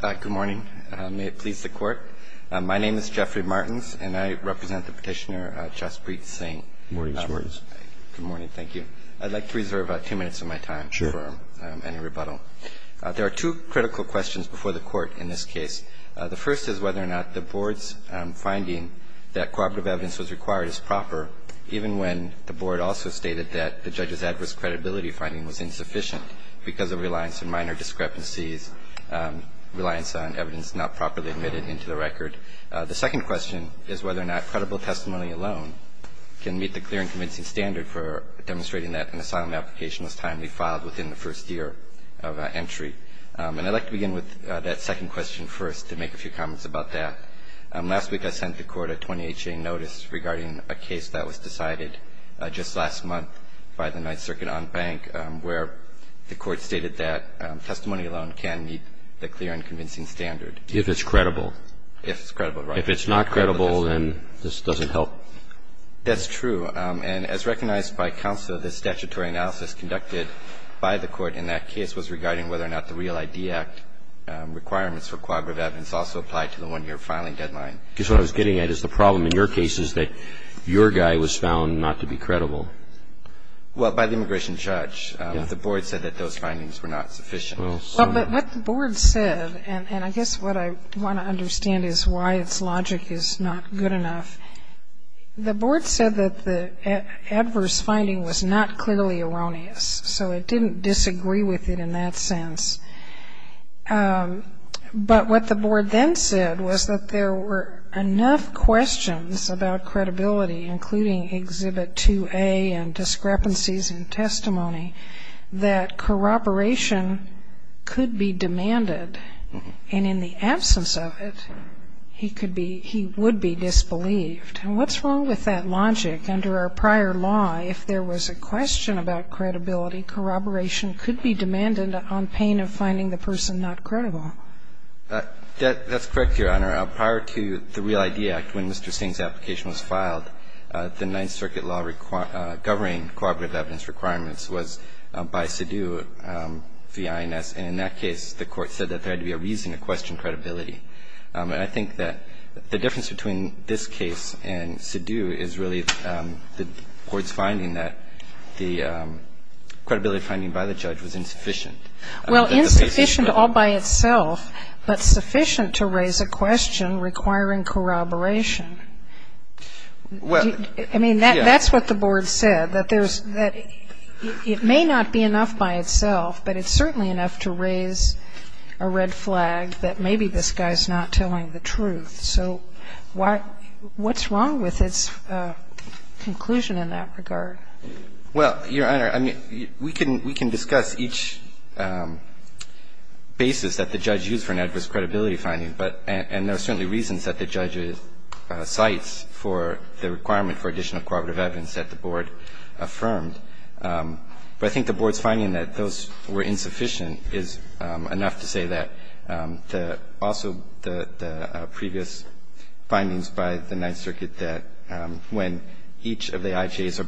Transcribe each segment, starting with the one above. Good morning. May it please the Court. My name is Jeffrey Martins, and I represent the Petitioner Jaspreet Singh. Good morning, Mr. Martins. Good morning. Thank you. I'd like to reserve two minutes of my time for any rebuttal. There are two critical questions before the Court in this case. The first is whether or not the Board's finding that corroborative evidence was required is proper, even when the Board also stated that the judge's adverse credibility finding was insufficient because of reliance on minor discrepancies, reliance on evidence not properly admitted into the record. The second question is whether or not credible testimony alone can meet the clear and convincing standard for demonstrating that an asylum application was timely filed within the first year of entry. And I'd like to begin with that second question first to make a few comments about that. Last week I sent the Court a 20HA notice regarding a case that was decided just last month by the Ninth Circuit on Bank, where the Court stated that testimony alone can meet the clear and convincing standard. If it's credible. If it's credible, right. If it's not credible, then this doesn't help. That's true. And as recognized by counsel, the statutory analysis conducted by the Court in that case was regarding whether or not the Real ID Act requirements for corroborative evidence also apply to the one-year filing deadline. Because what I was getting at is the problem in your case is that your guy was found not to be credible. Well, by the immigration judge. The Board said that those findings were not sufficient. Well, but what the Board said, and I guess what I want to understand is why its logic is not good enough. The Board said that the adverse finding was not clearly erroneous. So it didn't disagree with it in that sense. But what the Board then said was that there were enough questions about credibility, including Exhibit 2A and discrepancies in testimony, that corroboration could be demanded. And in the absence of it, he would be disbelieved. And what's wrong with that logic? Under our prior law, if there was a question about credibility, corroboration could be demanded on pain of finding the person not credible. That's correct, Your Honor. Prior to the REAL-ID Act, when Mr. Singh's application was filed, the Ninth Circuit law governing corroborative evidence requirements was by Sidhu via INS. And in that case, the Court said that there had to be a reason to question credibility. And I think that the difference between this case and Sidhu is really the Court's finding that the credibility finding by the judge was insufficient. Well, insufficient all by itself, but sufficient to raise a question requiring corroboration. I mean, that's what the Board said, that it may not be enough by itself, but it's certainly enough to raise a red flag that maybe this guy's not telling the truth. So what's wrong with its conclusion in that regard? Well, Your Honor, I mean, we can discuss each basis that the judge used for an adverse credibility finding, but there are certainly reasons that the judge cites for the requirement for additional corroborative evidence that the Board affirmed. But I think the Board's finding that those were insufficient is enough to say that evidence. And also the previous findings by the Ninth Circuit that when each of the IJA's or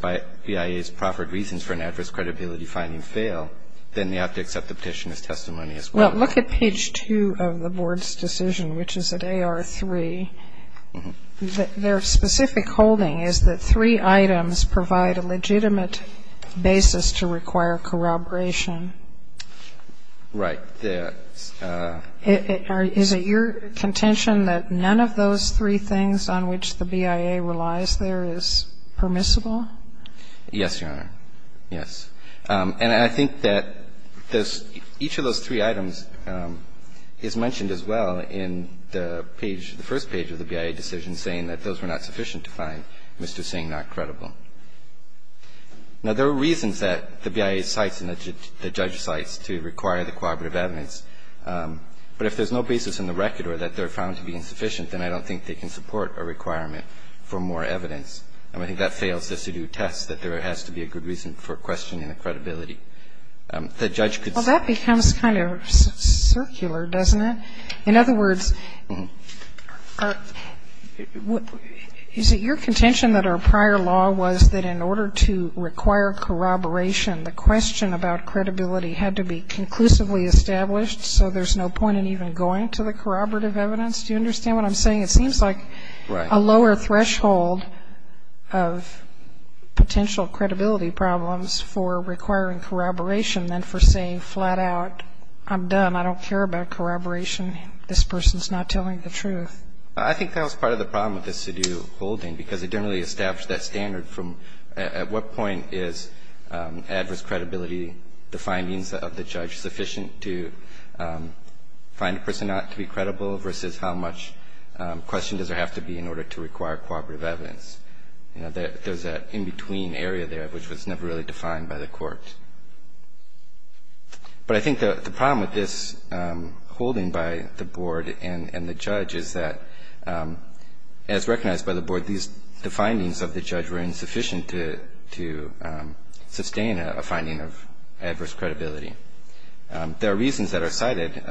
BIA's proffered reasons for an adverse credibility finding fail, then they have to accept the Petitioner's testimony as well. Look at page 2 of the Board's decision, which is at AR3. Their specific holding is that three items provide a legitimate basis to require corroboration. Right. Is it your contention that none of those three things on which the BIA relies there is permissible? Yes, Your Honor. Yes. And I think that each of those three items is mentioned as well in the page, the first page of the BIA decision, saying that those were not sufficient to find Mr. Singh not credible. Now, there are reasons that the BIA cites and the judge cites to require the corroborative evidence, but if there's no basis in the record or that they're found to be insufficient, then I don't think they can support a requirement for more evidence. And I think that fails to do tests, that there has to be a good reason for questioning the credibility. The judge could say that. Well, that becomes kind of circular, doesn't it? In other words, is it your contention that our prior law was that in order to require corroboration, the question about credibility had to be conclusively established, so there's no point in even going to the corroborative evidence? Do you understand what I'm saying? It seems like a lower threshold of potential credibility problems for requiring corroboration than for saying flat out, I'm done, I don't care about corroboration, this person's not telling the truth. I think that was part of the problem with this to-do holding, because it didn't really establish that standard from at what point is adverse credibility, the findings of the judge, sufficient to find a person not to be credible versus how much question does there have to be in order to require corroborative evidence? There's an in-between area there which was never really defined by the court. But I think the problem with this holding by the board and the judge is that, as recognized by the board, the findings of the judge were insufficient to sustain a finding of adverse credibility. There are reasons that are cited.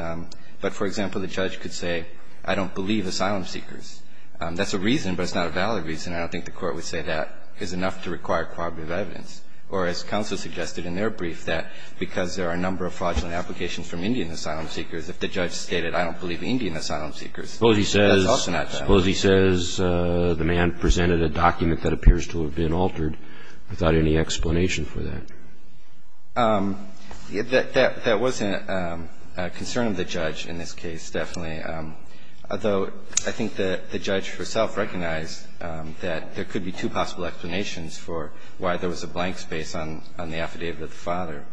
But, for example, the judge could say, I don't believe asylum seekers. That's a reason, but it's not a valid reason. I don't think the court would say that is enough to require corroborative evidence. Or, as counsel suggested in their brief, that because there are a number of fraudulent applications from Indian asylum seekers, if the judge stated, I don't believe Indian asylum seekers, that's also not valid. Suppose he says the man presented a document that appears to have been altered without any explanation for that. That wasn't a concern of the judge in this case, definitely, although I think the judge herself recognized that there could be two possible explanations for why there was a blank space on the affidavit of the father.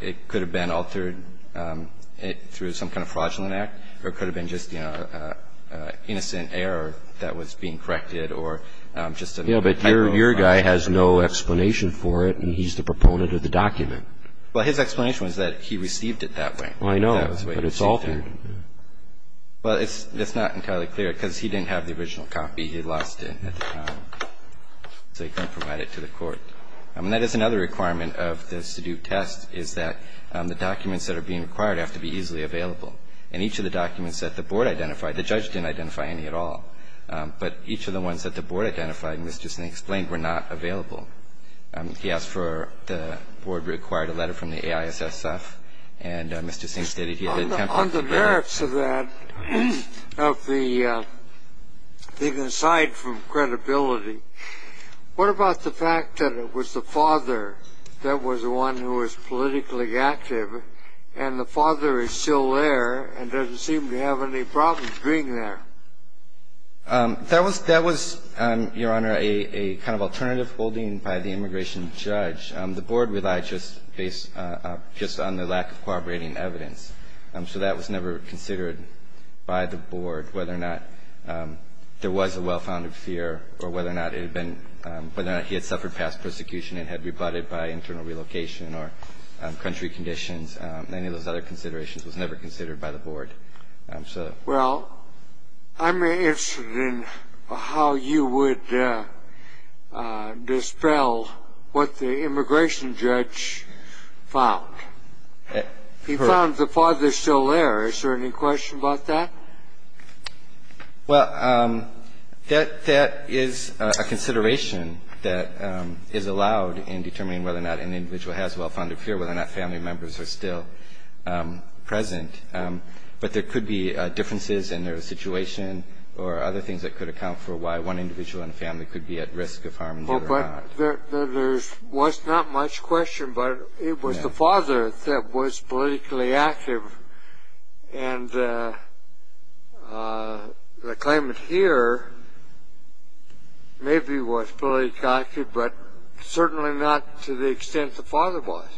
It could have been altered through some kind of fraudulent act or it could have been just, you know, innocent error that was being corrected or just a type of fraud. But your guy has no explanation for it and he's the proponent of the document. Well, his explanation was that he received it that way. I know, but it's altered. Well, it's not entirely clear because he didn't have the original copy. He lost it at the time. So he couldn't provide it to the court. That is another requirement of the statute test is that the documents that are being required have to be easily available. And each of the documents that the board identified, the judge didn't identify any at all, but each of the ones that the board identified, Mr. Sink explained, were not available. He asked for the board required a letter from the AISSF, and Mr. Sink stated he had attempted to do that. On the merits of that, of the aside from credibility, what about the fact that it was the father that was the one who was politically active and the father is still there and doesn't seem to have any problems being there? That was, Your Honor, a kind of alternative holding by the immigration judge. The board relied just based on the lack of corroborating evidence. So that was never considered by the board, whether or not there was a well-founded fear or whether or not it had been, whether or not he had suffered past persecution and had rebutted by internal relocation or country conditions. Any of those other considerations was never considered by the board. Well, I'm interested in how you would dispel what the immigration judge found. He found the father is still there. Is there any question about that? Well, that is a consideration that is allowed in determining whether or not an individual has a well-founded fear, whether or not family members are still present. But there could be differences in their situation or other things that could account for why one individual in a family could be at risk of harm and the other not. Well, but there was not much question, but it was the father that was politically active, and the claimant here maybe was politically active, but certainly not to the extent the father was.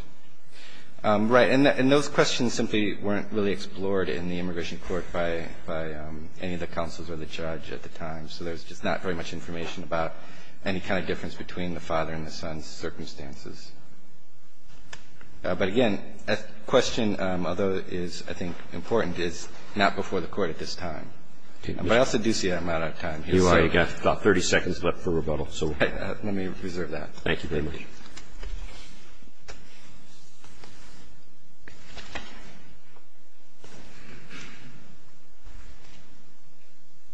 Right. And those questions simply weren't really explored in the immigration court by any of the counsels or the judge at the time. So there's just not very much information about any kind of difference between the father and the son's circumstances. But, again, a question, although it is, I think, important, is not before the Court at this time. But I also do see that I'm out of time. You've got about 30 seconds left for rebuttal. Let me reserve that. Thank you very much.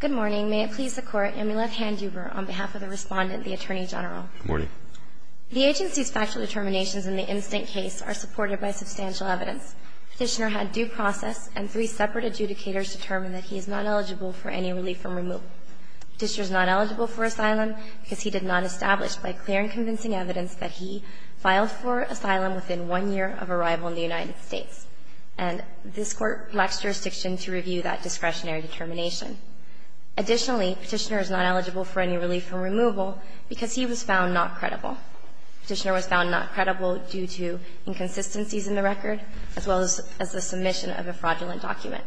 Good morning. May it please the Court, Amulet Handuber on behalf of the Respondent, the Attorney General. Good morning. The agency's factual determinations in the instant case are supported by substantial evidence. Petitioner had due process, and three separate adjudicators determined that he is not eligible for any relief from removal. Petitioner is not eligible for asylum because he did not establish by clear and convincing evidence that he filed for asylum within one year of arrival in the United States. And this Court lacks jurisdiction to review that discretionary determination. Additionally, Petitioner is not eligible for any relief from removal because he was found not credible. Petitioner was found not credible due to inconsistencies in the record, as well as the submission of a fraudulent document.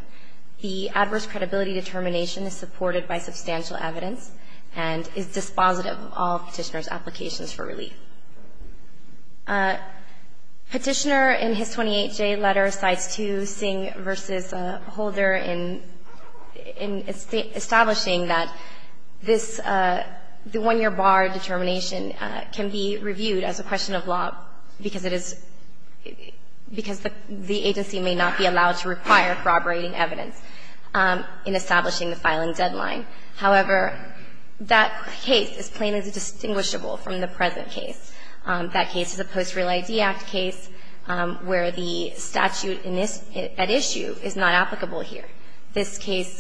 The adverse credibility determination is supported by substantial evidence and is dispositive of all Petitioner's applications for relief. Petitioner, in his 28J letter, Cites II, Singh v. Holder, in establishing that this one-year bar determination can be reviewed as a question of law because it is – because the agency may not be allowed to require corroborating evidence in establishing the filing deadline. However, that case is plainly distinguishable from the present case. That case is a post-Real ID Act case where the statute at issue is not applicable here. This case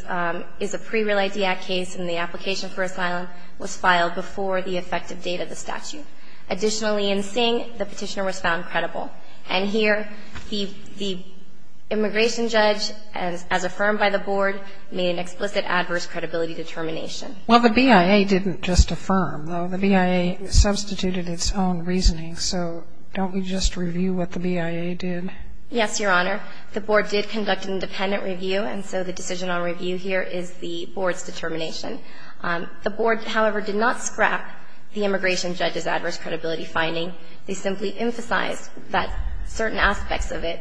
is a pre-Real ID Act case and the application for asylum was filed before the effective date of the statute. Additionally, in Singh, the Petitioner was found credible. And here, the immigration judge, as affirmed by the Board, made an explicit adverse credibility determination. Well, the BIA didn't just affirm, though. The BIA substituted its own reasoning. So don't we just review what the BIA did? Yes, Your Honor. The Board did conduct an independent review, and so the decision on review here is the Board's determination. The Board, however, did not scrap the immigration judge's adverse credibility finding. They simply emphasized that certain aspects of it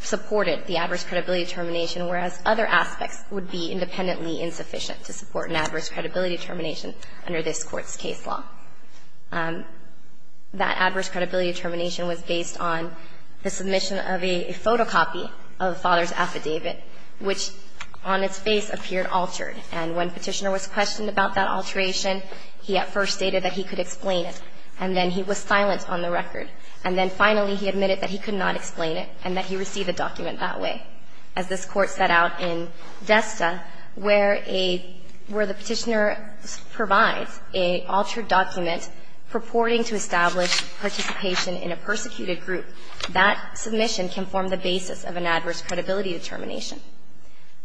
supported the adverse credibility determination, whereas other aspects would be independently insufficient to support an adverse credibility determination under this Court's case law. That adverse credibility determination was based on the submission of a photocopy of the father's affidavit, which on its face appeared altered. And when Petitioner was questioned about that alteration, he at first stated that he could explain it, and then he was silent on the record. And then finally, he admitted that he could not explain it and that he received a document that way. As this Court set out in Desta, where a – where the Petitioner provides an altered document purporting to establish participation in a persecuted group, that submission can form the basis of an adverse credibility determination.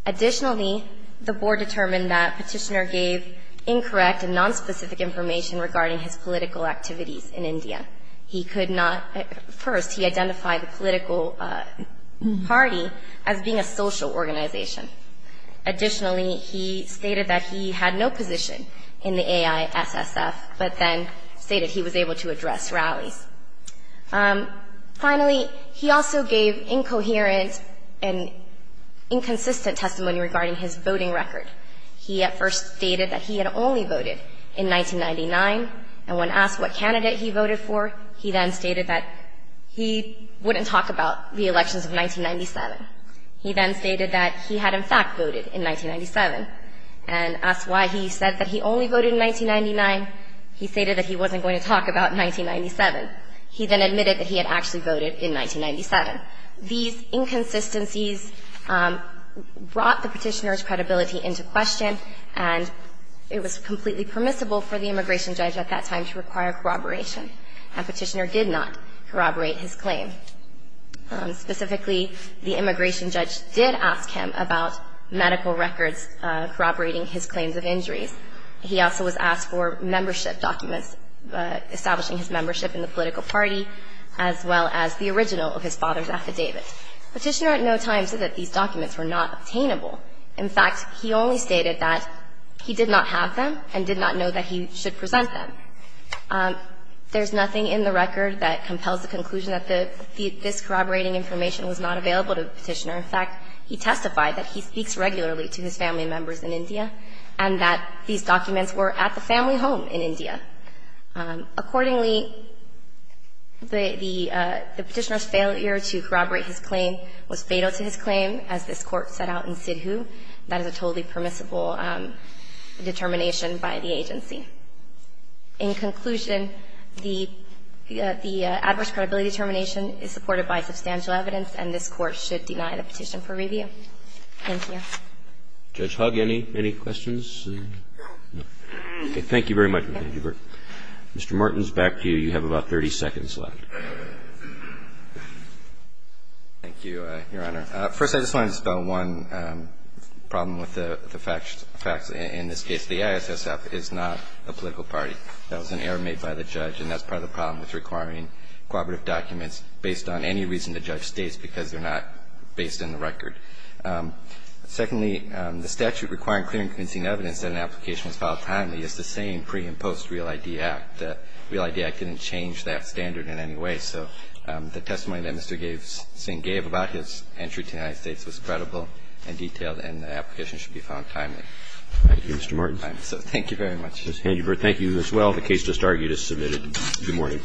Additionally, the Board determined that Petitioner gave incorrect and nonspecific information regarding his political activities in India. He could not – first, he identified the political party as being a social organization. Additionally, he stated that he had no position in the AISSF, but then stated he was able to address rallies. Finally, he also gave incoherent and inconsistent testimony regarding his voting record. He at first stated that he had only voted in 1999, and when asked what candidate he voted for, he then stated that he wouldn't talk about the elections of 1997. He then stated that he had, in fact, voted in 1997. And asked why he said that he only voted in 1999, he stated that he wasn't going to talk about 1997. He then admitted that he had actually voted in 1997. These inconsistencies brought the Petitioner's credibility into question, and it was completely permissible for the immigration judge at that time to require corroboration. And Petitioner did not corroborate his claim. Specifically, the immigration judge did ask him about medical records corroborating his claims of injuries. He also was asked for membership documents, establishing his membership in the political party, as well as the original of his father's affidavit. Petitioner at no time said that these documents were not obtainable. In fact, he only stated that he did not have them and did not know that he should present them. There's nothing in the record that compels the conclusion that this corroborating information was not available to the Petitioner. In fact, he testified that he speaks regularly to his family members in India and that these documents were at the family home in India. Accordingly, the Petitioner's failure to corroborate his claim was fatal to his claim, as this Court set out in Sidhu. That is a totally permissible determination by the agency. In conclusion, the adverse credibility determination is supported by substantial evidence, and this Court should deny the petition for review. Thank you. Roberts. Judge Hogg, any questions? No. Okay. Thank you very much. Mr. Martin's back to you. You have about 30 seconds left. Thank you, Your Honor. First, I just wanted to spell one problem with the facts. In this case, the ISSF is not a political party. That was an error made by the judge, and that's part of the problem with requiring corroborative documents based on any reason the judge states, because they're not based in the record. Secondly, the statute requiring clear and convincing evidence that an application was filed timely is the same pre- and post-Real ID Act. The Real ID Act didn't change that standard in any way. So the testimony that Mr. Singh gave about his entry to the United States was credible and detailed, and the application should be found timely. Thank you, Mr. Martin. Thank you very much. Mr. Hangenberg, thank you as well. The case just argued is submitted. Good morning.